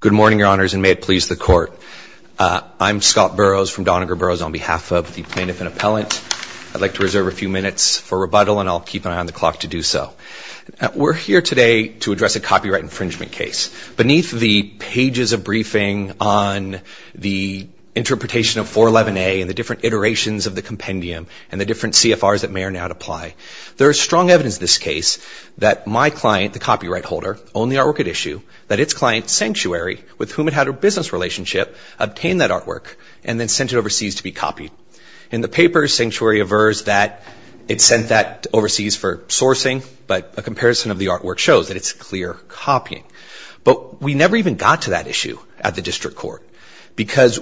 Good morning, Your Honors, and may it please the Court. I'm Scott Burroughs from Doniger Burroughs on behalf of the Plaintiff and Appellant. I'd like to reserve a few minutes for rebuttal, and I'll keep an eye on the clock to do so. We're here today to address a copyright infringement case. Beneath the pages of briefing on the interpretation of 411A and the different iterations of the compendium and the different CFRs that may or may not apply, there is strong evidence in this case that my client, the copyright holder, owned the artwork at issue, that its client, Sanctuary, with whom it had a business relationship, obtained that artwork and then sent it overseas to be copied. In the paper, Sanctuary aversed that it sent that overseas for sourcing, but a comparison of the artwork shows that it's clear copying. But we never even got to that issue at the district court because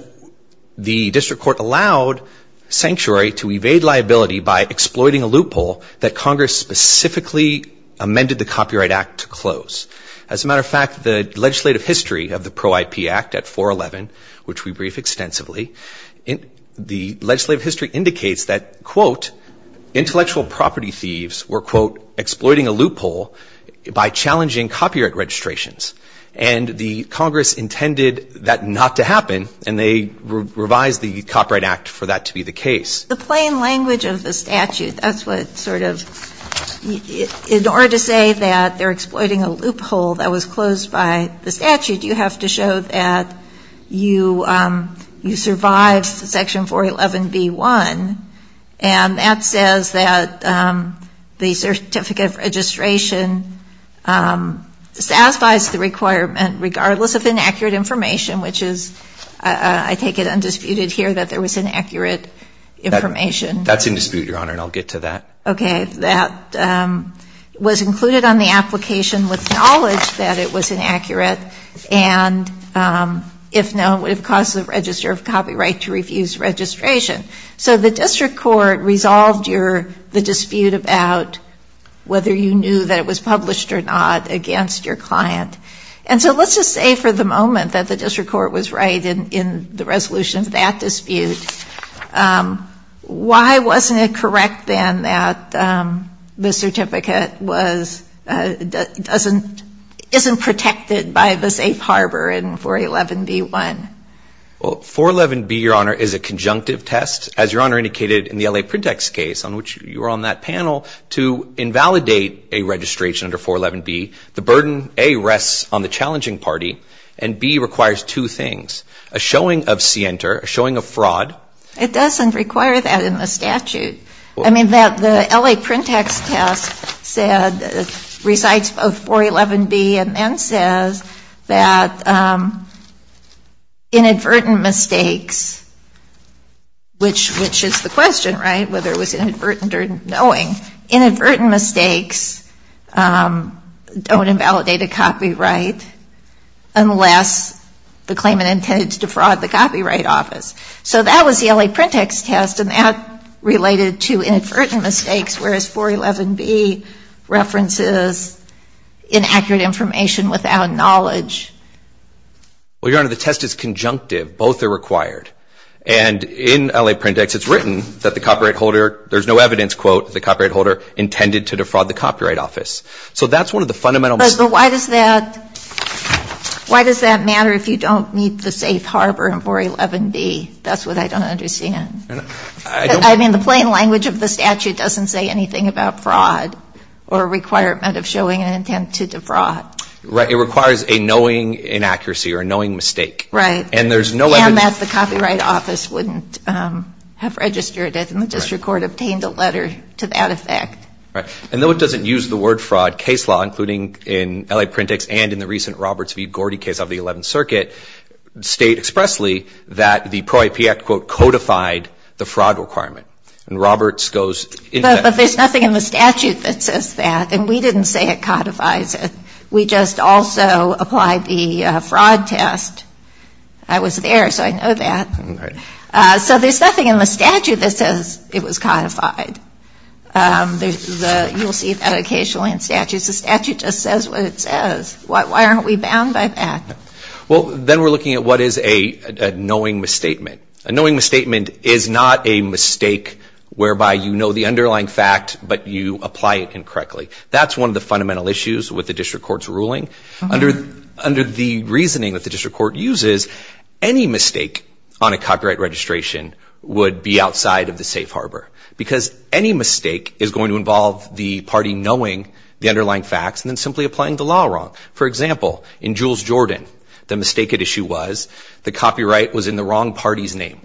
the district court allowed Sanctuary to evade liability by exploiting a loophole that Congress specifically amended the Copyright Act to close. As a matter of fact, the legislative history of the Pro-IP Act at 411, which we brief extensively, the legislative history indicates that, quote, intellectual property thieves were, quote, exploiting a loophole by challenging copyright registrations. And the Congress intended that not to happen, and they revised the Copyright Act for that to be the case. The plain language of the statute, that's what sort of, in order to say that they're exploiting a loophole that was closed by the statute, you have to show that you survived Section 411b-1, and that says that the certificate of registration satisfies the requirement regardless of inaccurate information, which is, I take it undisputed here that there was inaccurate information. That's in dispute, Your Honor, and I'll get to that. Okay. That was included on the application with knowledge that it was inaccurate, and if known, would have caused the register of copyright to refuse registration. So the district court resolved the dispute about whether you knew that it was published or not against your client. And so let's just say for the moment that the district court was right in the resolution of that dispute. Why wasn't it correct then that the certificate wasn't, isn't protected by the safe harbor in 411b-1? Well, 411b, Your Honor, is a conjunctive test. As Your Honor indicated in the L.A. Printext case on which you were on that panel, to invalidate a registration under 411b, the burden, A, rests on the challenging party, and B, requires two things, a showing of scienter, a showing of fraud. It doesn't require that in the statute. I mean, the L.A. Printext test said, recites both 411b and then says that inadvertent mistakes, which is the question, right, whether it was inadvertent or knowing. Inadvertent mistakes don't invalidate a copyright unless the claimant intended to defraud the Copyright Office. So that was the L.A. Printext test, and that related to inadvertent mistakes, whereas 411b references inaccurate information without knowledge. Well, Your Honor, the test is conjunctive. Both are required. And in L.A. Printext, it's written that the copyright holder, there's no evidence, quote, the copyright holder intended to defraud the Copyright Office. So that's one of the fundamental mistakes. But why does that matter if you don't meet the safe harbor in 411b? That's what I don't understand. I mean, the plain language of the statute doesn't say anything about fraud or a requirement of showing an intent to defraud. Right. It requires a knowing inaccuracy or a knowing mistake. Right. And there's no evidence. And that the Copyright Office wouldn't have registered it, and the district court obtained a letter to that effect. Right. And though it doesn't use the word fraud, case law, including in L.A. Printext and in the recent Roberts v. Gordy case of the 11th Circuit, state expressly that the Pro-IP Act, quote, codified the fraud requirement. And Roberts goes into that. But there's nothing in the statute that says that. And we didn't say it codifies it. We just also applied the fraud test. I was there, so I know that. Right. So there's nothing in the statute that says it was codified. You'll see that occasionally in statutes. The statute just says what it says. Why aren't we bound by that? Well, then we're looking at what is a knowing misstatement. A knowing misstatement is not a mistake whereby you know the underlying fact, but you apply it incorrectly. That's one of the fundamental issues with the district court's ruling. Under the reasoning that the district court uses, any mistake on a copyright registration would be outside of the safe harbor because any mistake is going to involve the party knowing the underlying facts and then simply applying the law wrong. For example, in Jules Jordan, the mistaken issue was the copyright was in the wrong party's name.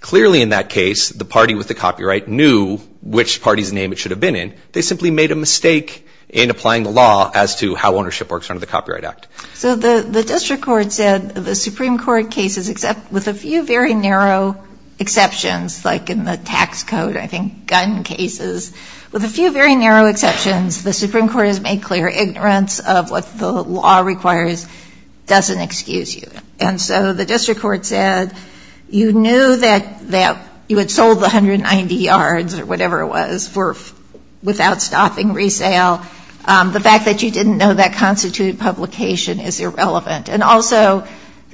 Clearly in that case, the party with the copyright knew which party's name it should have been in. They simply made a mistake in applying the law as to how ownership works under the Copyright Act. So the district court said the Supreme Court cases, with a few very narrow exceptions, like in the tax code, I think, gun cases, with a few very narrow exceptions, the Supreme Court has made clear ignorance of what the law requires doesn't excuse you. And so the district court said you knew that you had sold the 190 yards or whatever it was without stopping resale. The fact that you didn't know that constituted publication is irrelevant. And also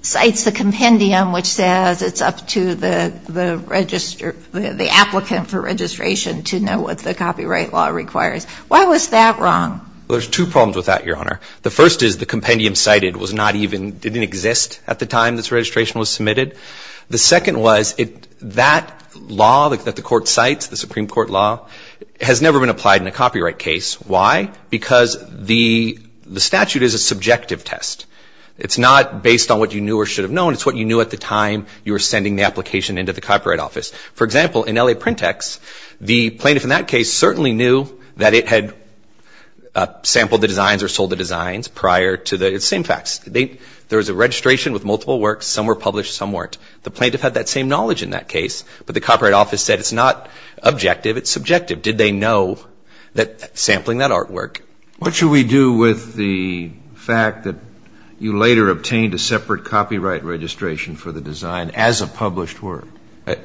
cites the compendium, which says it's up to the applicant for registration to know what the copyright law requires. Why was that wrong? There's two problems with that, Your Honor. The first is the compendium cited didn't exist at the time this registration was submitted. The second was that law that the court cites, the Supreme Court law, has never been applied in a copyright case. Why? Because the statute is a subjective test. It's not based on what you knew or should have known. It's what you knew at the time you were sending the application into the Copyright Office. For example, in L.A. Print X, the plaintiff in that case certainly knew that it had sampled the designs or sold the designs prior to the same facts. There was a registration with multiple works. Some were published, some weren't. The plaintiff had that same knowledge in that case, but the Copyright Office said it's not objective, it's subjective. Did they know that sampling that artwork? What should we do with the fact that you later obtained a separate copyright registration for the design as a published work?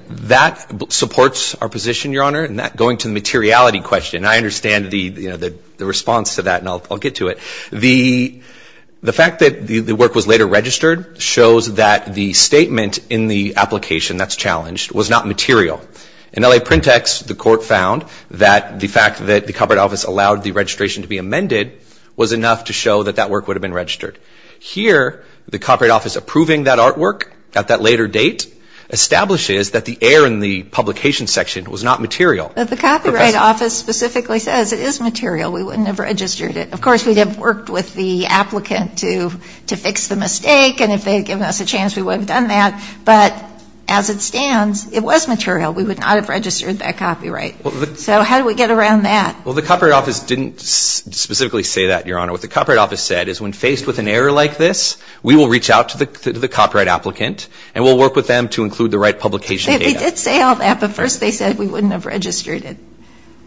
That supports our position, Your Honor. And going to the materiality question, I understand the response to that, and I'll get to it. The fact that the work was later registered shows that the statement in the application that's challenged was not material. In L.A. Print X, the court found that the fact that the Copyright Office allowed the registration to be amended was enough to show that that work would have been registered. Here, the Copyright Office approving that artwork at that later date establishes that the error in the publication section was not material. But the Copyright Office specifically says it is material. We wouldn't have registered it. Of course, we'd have worked with the applicant to fix the mistake, and if they had given us a chance, we would have done that. But as it stands, it was material. We would not have registered that copyright. So how do we get around that? Well, the Copyright Office didn't specifically say that, Your Honor. What the Copyright Office said is when faced with an error like this, we will reach out to the copyright applicant, and we'll work with them to include the right publication data. They did say all that, but first they said we wouldn't have registered it.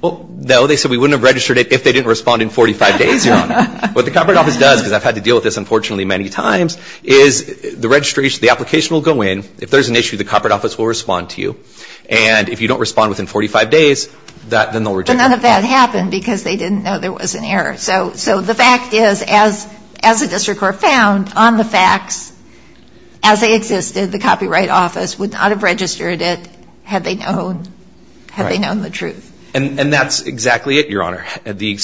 Well, no, they said we wouldn't have registered it if they didn't respond in 45 days, Your Honor. What the Copyright Office does, because I've had to deal with this unfortunately many times, is the application will go in. If there's an issue, the Copyright Office will respond to you. And if you don't respond within 45 days, then they'll reject that. But none of that happened because they didn't know there was an error. So the fact is, as the District Court found on the facts, as they existed, the Copyright Office would not have registered it had they known the truth. And that's exactly it, Your Honor. The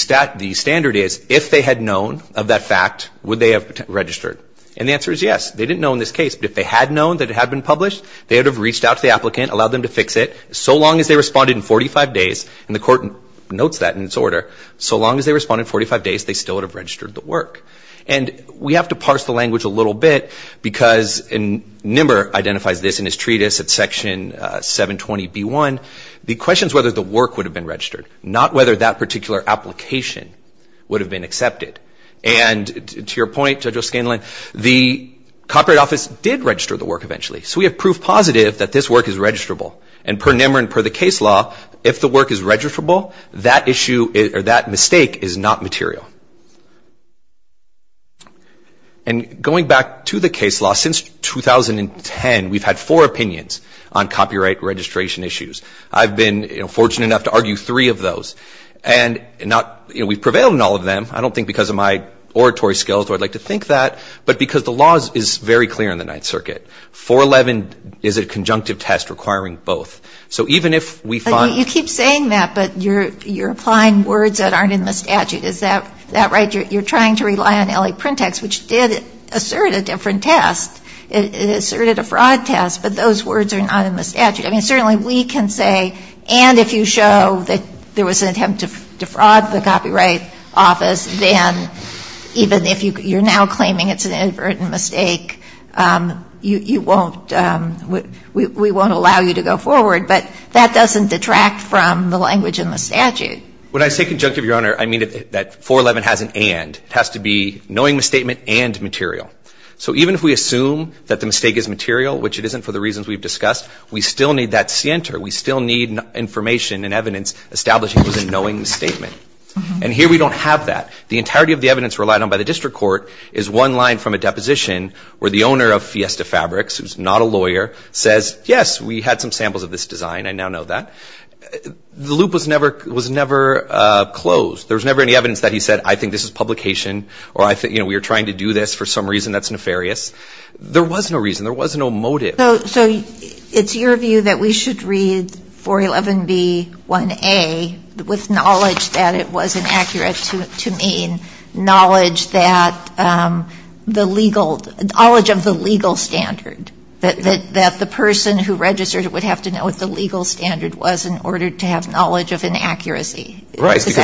standard is, if they had known of that fact, would they have registered? And the answer is yes. They didn't know in this case, but if they had known that it had been published, they would have reached out to the applicant, allowed them to fix it. So long as they responded in 45 days, and the Court notes that in its order, so long as they responded in 45 days, they still would have registered the work. And we have to parse the language a little bit because Nimmer identifies this in his treatise at Section 720B1. The question is whether the work would have been registered, not whether that particular application would have been accepted. And to your point, Judge O'Scanlan, the Copyright Office did register the work eventually. So we have proof positive that this work is registrable. And per Nimmer and per the case law, if the work is registrable, that mistake is not material. And going back to the case law, since 2010, we've had four opinions on copyright registration issues. I've been fortunate enough to argue three of those. And we've prevailed in all of them. I don't think because of my oratory skills, or I'd like to think that, but because the law is very clear in the Ninth Circuit. 411 is a conjunctive test requiring both. So even if we find... But you keep saying that, but you're applying words that aren't in the statute. Is that right? You're trying to rely on L.A. Print Text, which did assert a different test. It asserted a fraud test. But those words are not in the statute. I mean, certainly we can say, and if you show that there was an attempt to defraud the Copyright Office, then even if you're now claiming it's an inadvertent mistake, you won't... We won't allow you to go forward. But that doesn't detract from the language in the statute. When I say conjunctive, Your Honor, I mean that 411 has an and. It has to be knowing the statement and material. So even if we assume that the mistake is material, which it isn't for the reasons we've discussed, we still need that scienter. We still need information and evidence establishing it was a knowing statement. And here we don't have that. The entirety of the evidence relied on by the district court is one line from a deposition where the owner of Fiesta Fabrics, who's not a lawyer, says, yes, we had some samples of this design, I now know that. The loop was never closed. There was never any evidence that he said, I think this is publication, or we were trying to do this for some reason that's nefarious. There was no reason. There was no motive. So it's your view that we should read 411B1A with knowledge that it was inaccurate to mean knowledge that the legal... knowledge of the legal standard, that the person who registered it would have to know what the legal standard was in order to have knowledge of inaccuracy. Is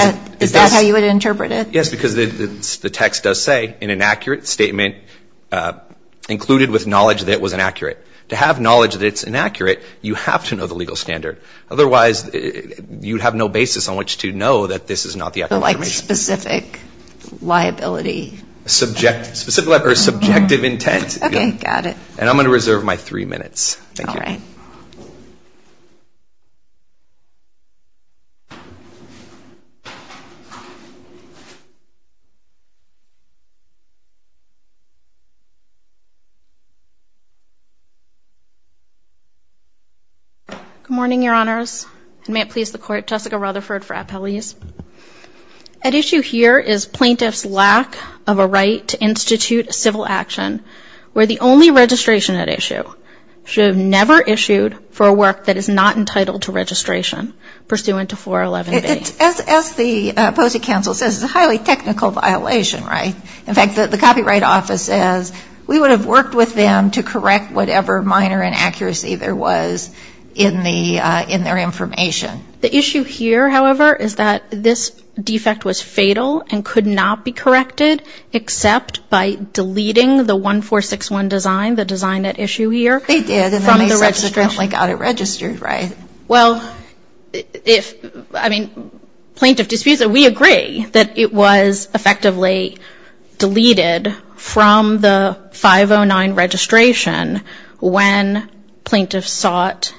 that how you would interpret it? Yes, because the text does say, an inaccurate statement included with knowledge that it was inaccurate. To have knowledge that it's inaccurate, you have to know the legal standard. Otherwise, you'd have no basis on which to know that this is not the accurate information. Like specific liability. Subjective intent. Okay, got it. And I'm going to reserve my three minutes. Thank you. All right. Good morning, Your Honors. And may it please the Court, Jessica Rutherford for appellees. At issue here is plaintiff's lack of a right to institute civil action, where the only registration at issue should have never issued for a work that is not entitled to registration pursuant to 411B. As the Post-it Council says, it's a highly technical violation, right? In fact, the Copyright Office says we would have worked with them to correct whatever minor inaccuracy there was in their information. The issue here, however, is that this defect was fatal and could not be corrected except by deleting the 1461 design, the design at issue here. They did, and then they subsequently got it registered, right? Well, if, I mean, plaintiff disputes it. We agree that it was effectively deleted from the 509 registration when plaintiff sought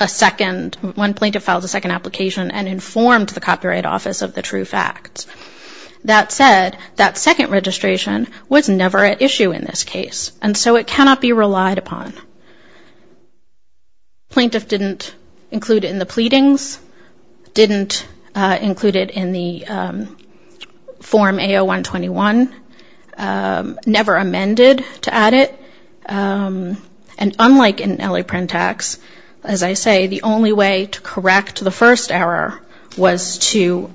a second, when plaintiff filed a second application and informed the Copyright Office of the true facts. That said, that second registration was never at issue in this case, and so it cannot be relied upon. Plaintiff didn't include it in the pleadings, didn't include it in the Form AO-121, never amended to add it, and unlike in LA Printax, as I say, the only way to correct the first error was to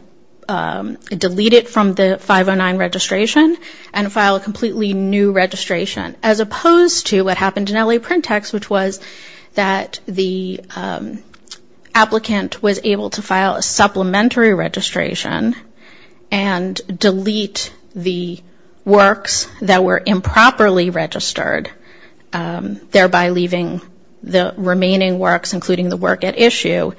delete it from the 509 registration and file a completely new registration, as opposed to what happened in LA Printax, which was that the applicant was able to file a supplementary registration and delete the works that were improperly registered, thereby leaving the remaining works, including the work at issue,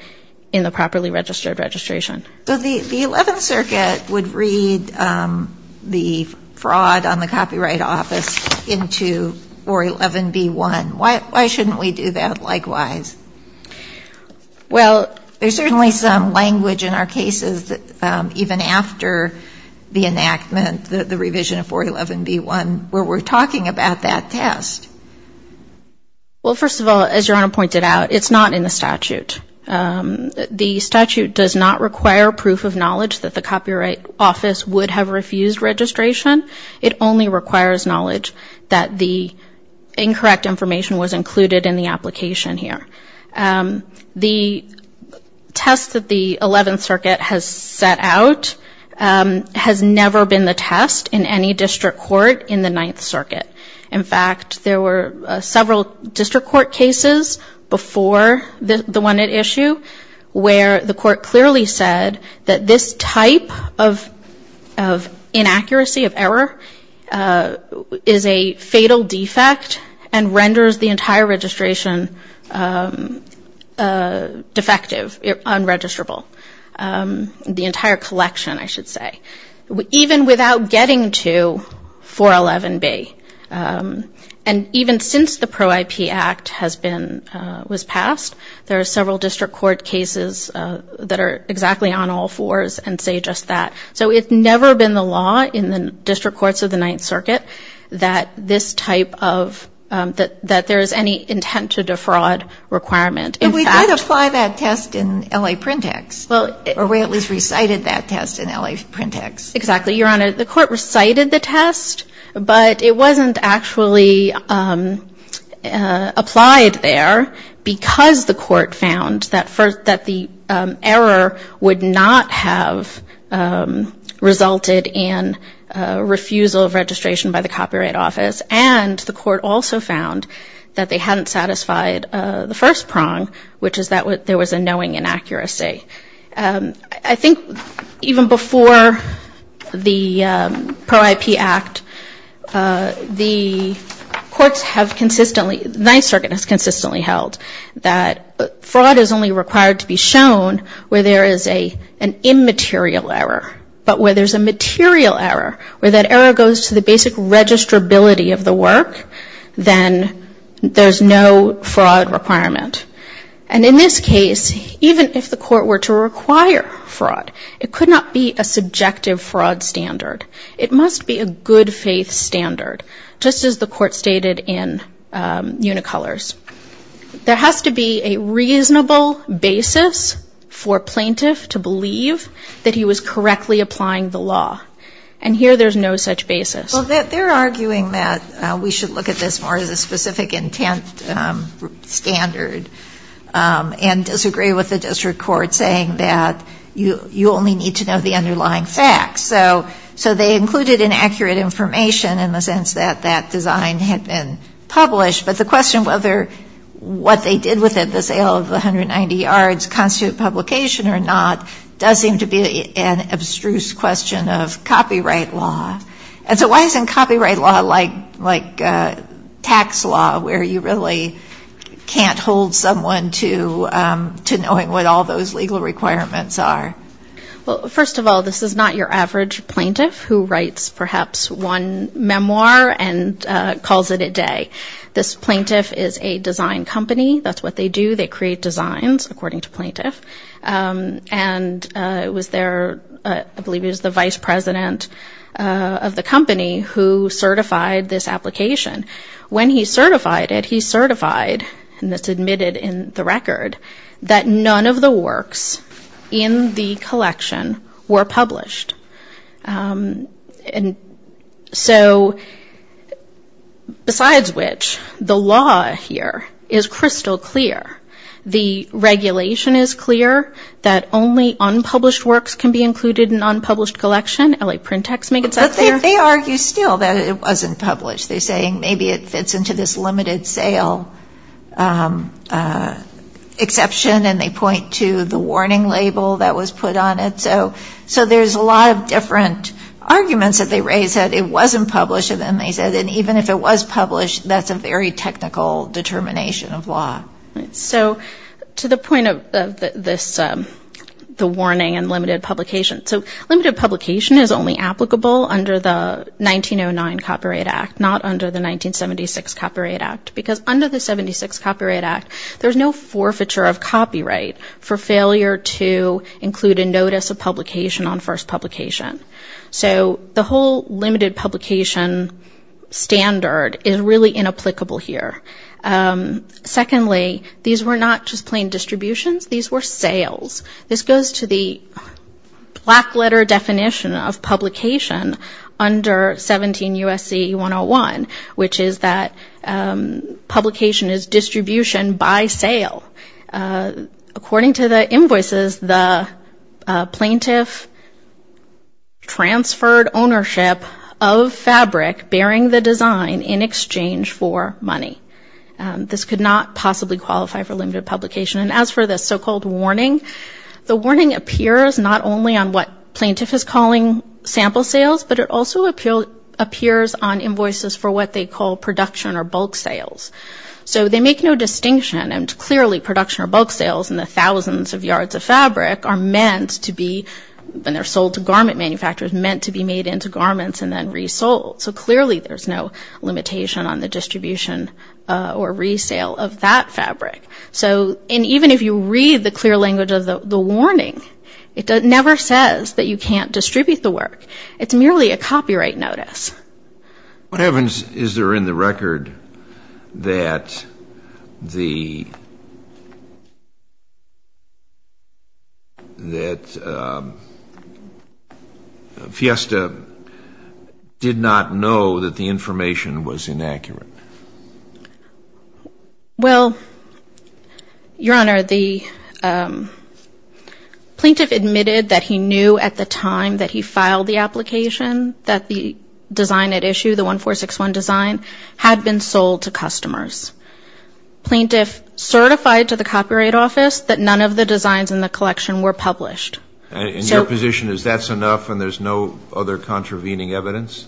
in the properly registered registration. So the Eleventh Circuit would read the fraud on the Copyright Office into 411b-1. Why shouldn't we do that likewise? Well, there's certainly some language in our cases, even after the enactment, the revision of 411b-1, where we're talking about that test. Well, first of all, as Your Honor pointed out, it's not in the statute. The statute does not require proof of knowledge that the Copyright Office would have refused registration. It only requires knowledge that the incorrect information was included in the application here. The test that the Eleventh Circuit has set out has never been the test in any district court in the Ninth Circuit. In fact, there were several district court cases before the one at issue where the court clearly said that this type of inaccuracy, of error, is a fatal defect and renders the entire registration defective, unregisterable. The entire collection, I should say. Even without getting to 411b. And even since the Pro-IP Act was passed, there are several district court cases that are exactly on all fours and say just that. So it's never been the law in the district courts of the Ninth Circuit that this type of, that there's any intent to defraud requirement. But we did apply that test in L.A. Print X. Or we at least recited that test in L.A. Print X. Exactly, Your Honor. The court recited the test, but it wasn't actually applied there because the court found that the error would not have resulted in refusal of registration by the Copyright Office. And the court also found that they hadn't satisfied the first prong, which is that there was a knowing inaccuracy. I think even before the Pro-IP Act, the courts have consistently, the Ninth Circuit has consistently held that fraud is only required to be shown where there is an immaterial error. But where there's a material error, where that error goes to the basic registrability of the work, then there's no fraud requirement. And in this case, even if the court were to require fraud, it could not be a subjective fraud standard. It must be a good-faith standard, just as the court stated in Unicolors. There has to be a reasonable basis for a plaintiff to believe that he was correctly applying the law. And here there's no such basis. Well, they're arguing that we should look at this more as a specific intent standard and disagree with the district court saying that you only need to know the underlying facts. So they included inaccurate information in the sense that that design had been published. But the question whether what they did with it, the sale of 190 yards, constitute publication or not, does seem to be an abstruse question of copyright law. And so why isn't copyright law like tax law, where you really can't hold someone to knowing what all those legal requirements are? Well, first of all, this is not your average plaintiff who writes perhaps one memoir and calls it a day. This plaintiff is a design company. That's what they do. They create designs, according to plaintiff. And it was their, I believe it was the vice president of the company who certified this application. When he certified it, he certified, and that's admitted in the record, that none of the works in the collection were published. And so, besides which, the law here is crystal clear. The regulation is clear that only unpublished works can be included in an unpublished collection. LA PrintEx makes that clear. But they argue still that it wasn't published. They're saying maybe it fits into this limited sale exception, and they point to the warning label that was put on it. So there's a lot of different arguments that they raise, that it wasn't published. And then they said that even if it was published, that's a very technical determination of law. So to the point of the warning and limited publication. So limited publication is only applicable under the 1909 Copyright Act, not under the 1976 Copyright Act. Because under the 1976 Copyright Act, there's no forfeiture of copyright for failure to include a notice of publication on first publication. So the whole limited publication standard is really inapplicable here. Secondly, these were not just plain distributions. These were sales. This goes to the black letter definition of publication under 17 U.S.C. 101, which is that publication is distribution by sale. According to the invoices, the plaintiff transferred ownership of fabric bearing the design in exchange for money. This could not possibly qualify for limited publication. And as for the so-called warning, the warning appears not only on what plaintiff is calling sample sales, but it also appears on invoices for what they call production or bulk sales. So they make no distinction, and clearly production or bulk sales in the thousands of yards of fabric are meant to be, when they're sold to garment manufacturers, meant to be made into garments and then resold. So clearly there's no limitation on the distribution or resale of that fabric. So even if you read the clear language of the warning, it never says that you can't distribute the work. It's merely a copyright notice. What happens is there in the record that the Fiesta did not know that the information was inaccurate? Well, Your Honor, the plaintiff admitted that he knew at the time that he filed the application that the design at issue, the 1461 design, had been sold to customers. Plaintiff certified to the Copyright Office that none of the designs in the collection were published. And your position is that's enough and there's no other contravening evidence?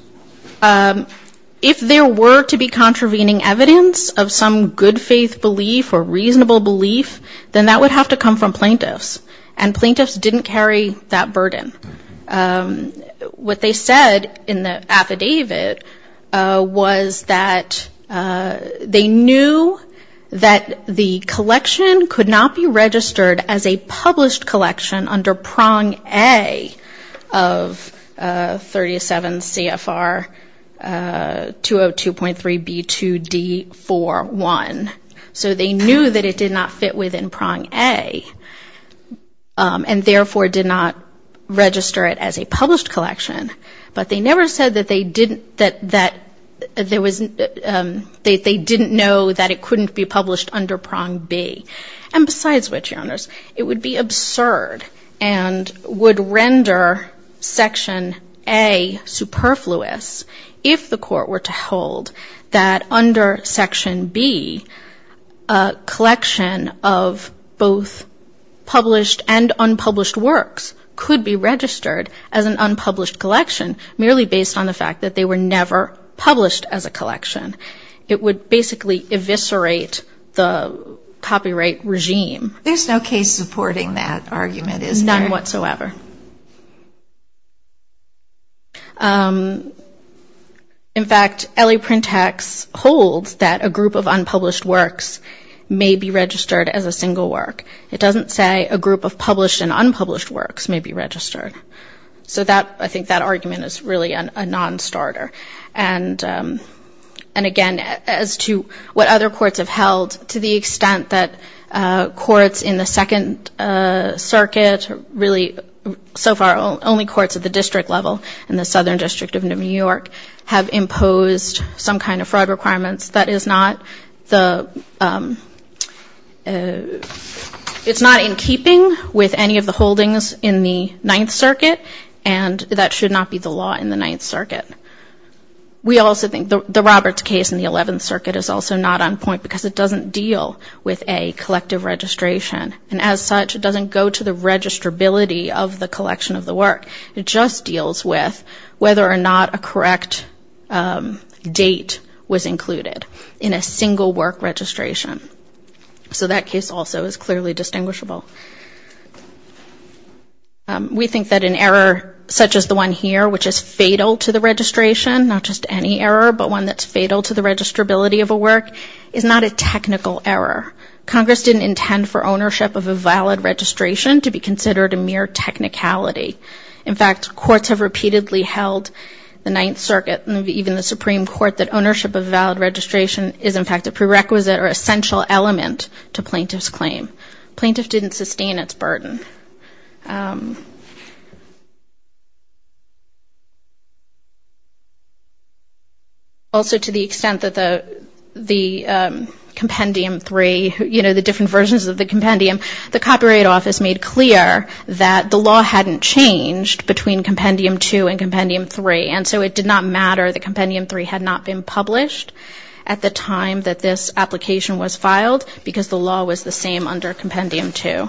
If there were to be contravening evidence of some good faith belief or reasonable belief, then that would have to come from plaintiffs. And plaintiffs didn't carry that burden. What they said in the affidavit was that they knew that the collection could not be registered as a published collection under prong A of 37 CFR 202.3B2D4.1. So they knew that it did not fit within prong A and therefore did not register it as a published collection. But they never said that they didn't know that it couldn't be published under prong B. And besides which, Your Honors, it would be absurd and would render section A superfluous if the court were to hold that under section B, a collection of both published and unpublished works could be registered as an unpublished collection merely based on the fact that they were never published as a collection. It would basically eviscerate the copyright regime. There's no case supporting that argument, is there? None whatsoever. In fact, L.A. Print Tax holds that a group of unpublished works may be registered as a single work. It doesn't say a group of published and unpublished works may be registered. So I think that argument is really a non-starter. And, again, as to what other courts have held, to the extent that courts in the Second Circuit, really so far only courts at the district level in the Southern District of New York, have imposed some kind of fraud requirements. That is not the – it's not in keeping with any of the holdings in the Ninth Circuit, and that should not be the law in the Ninth Circuit. We also think the Roberts case in the Eleventh Circuit is also not on point because it doesn't deal with a collective registration. And as such, it doesn't go to the registrability of the collection of the work. It just deals with whether or not a correct date was included in a single work registration. So that case also is clearly distinguishable. We think that an error such as the one here, which is fatal to the registration, not just any error but one that's fatal to the registrability of a work, is not a technical error. Congress didn't intend for ownership of a valid registration to be considered a mere technicality. In fact, courts have repeatedly held, the Ninth Circuit and even the Supreme Court, that ownership of a valid registration is, in fact, a prerequisite or essential element to plaintiff's claim. Plaintiff didn't sustain its burden. Also, to the extent that the Compendium 3, you know, the different versions of the Compendium, the Copyright Office made clear that the law hadn't changed between Compendium 2 and Compendium 3, and so it did not matter that Compendium 3 had not been published at the time that this application was filed because the law was the same under Compendium 2.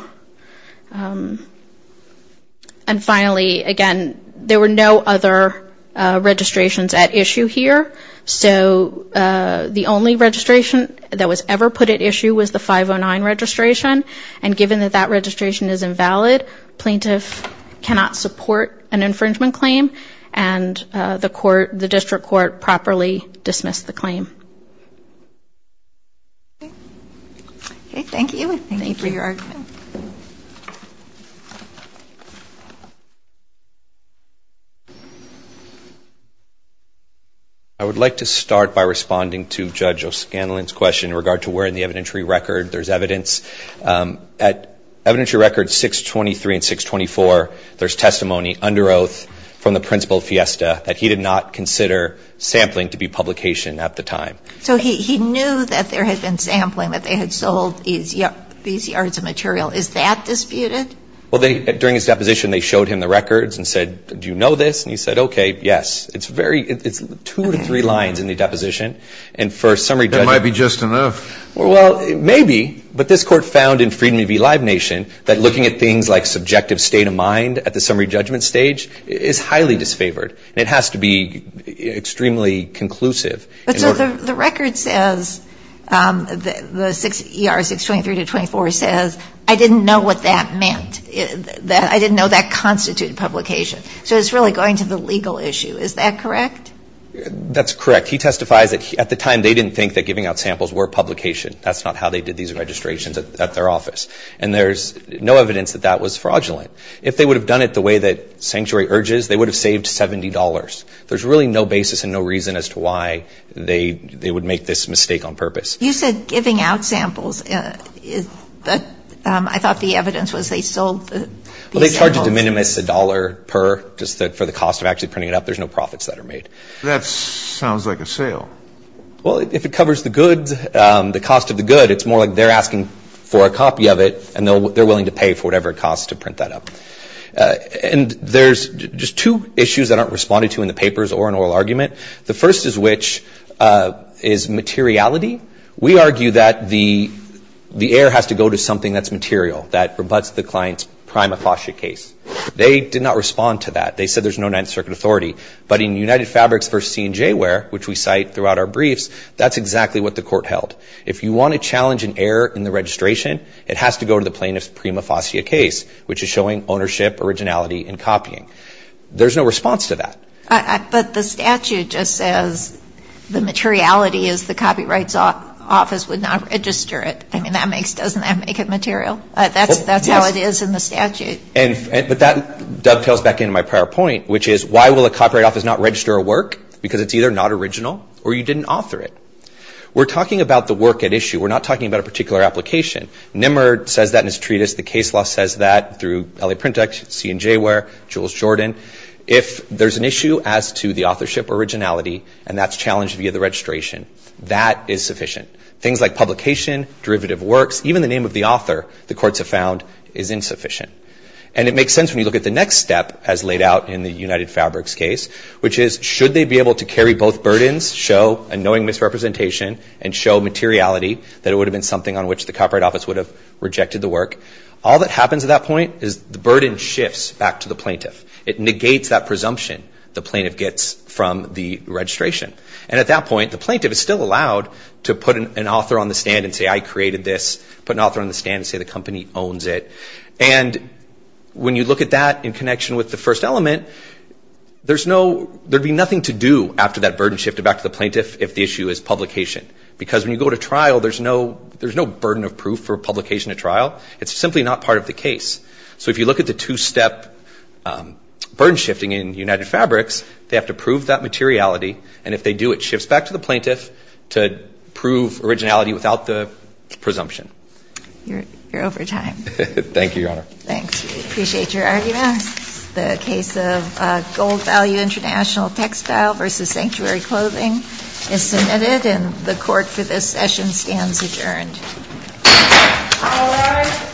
And finally, again, there were no other registrations at issue here, so the only registration that was ever put at issue was the 509 registration, and given that that registration is invalid, plaintiff cannot support an infringement claim, and the district court properly dismissed the claim. Okay, thank you, and thank you for your argument. I would like to start by responding to Judge O'Scanlan's question in regard to where in the evidentiary record there's evidence. At evidentiary records 623 and 624, there's testimony under oath from the principal, Fiesta, that he did not consider sampling to be publication at the time. So he knew that there had been sampling, that they had sold these yards of material. Is that disputed? Well, during his deposition, they showed him the records and said, do you know this? And he said, okay, yes. It's very, it's two to three lines in the deposition, and for summary judgment. That might be just enough. Well, maybe, but this court found in Freedmen v. Live Nation that looking at things like subjective state of mind at the summary judgment stage is highly disfavored, and it has to be extremely conclusive. But so the record says, the ER 623 to 624 says, I didn't know what that meant. I didn't know that constituted publication. So it's really going to the legal issue. Is that correct? That's correct. He testifies that at the time they didn't think that giving out samples were publication. That's not how they did these registrations at their office. And there's no evidence that that was fraudulent. If they would have done it the way that sanctuary urges, they would have saved $70. There's really no basis and no reason as to why they would make this mistake on purpose. You said giving out samples. I thought the evidence was they sold the samples. They charge a de minimis, a dollar per, just for the cost of actually printing it up. There's no profits that are made. That sounds like a sale. Well, if it covers the goods, the cost of the good, it's more like they're asking for a copy of it, and they're willing to pay for whatever it costs to print that up. And there's just two issues that aren't responded to in the papers or in oral argument. The first is which is materiality. We argue that the error has to go to something that's material, that rebutts the client's prima facie case. They did not respond to that. They said there's no Ninth Circuit authority. But in United Fabrics v. C&J Ware, which we cite throughout our briefs, that's exactly what the court held. If you want to challenge an error in the registration, it has to go to the plaintiff's prima facie case, which is showing ownership, originality, and copying. There's no response to that. But the statute just says the materiality is the Copyright Office would not register it. I mean, doesn't that make it material? That's how it is in the statute. But that dovetails back into my prior point, which is why will a Copyright Office not register a work? Because it's either not original or you didn't author it. We're talking about the work at issue. We're not talking about a particular application. Nimmer says that in his treatise. The case law says that through L.A. Print-Ex, C&J Ware, Jules Jordan. If there's an issue as to the authorship or originality, and that's challenged via the registration, that is sufficient. Things like publication, derivative works, even the name of the author, the courts have found, is insufficient. And it makes sense when you look at the next step as laid out in the United Fabrics case, which is should they be able to carry both burdens, show a knowing misrepresentation, and show materiality, that it would have been something on which the Copyright Office would have rejected the work. All that happens at that point is the burden shifts back to the plaintiff. It negates that presumption the plaintiff gets from the registration. And at that point, the plaintiff is still allowed to put an author on the stand and say I created this, put an author on the stand and say the company owns it. And when you look at that in connection with the first element, there's no, there'd be nothing to do after that burden shifted back to the plaintiff if the issue is publication. Because when you go to trial, there's no burden of proof for publication at trial. It's simply not part of the case. So if you look at the two-step burden shifting in United Fabrics, they have to prove that materiality. And if they do, it shifts back to the plaintiff to prove originality without the presumption. You're over time. Thank you, Your Honor. Thanks. We appreciate your argument. The case of Gold Value International Textile v. Sanctuary Clothing is submitted, and the court for this session stands adjourned. All rise.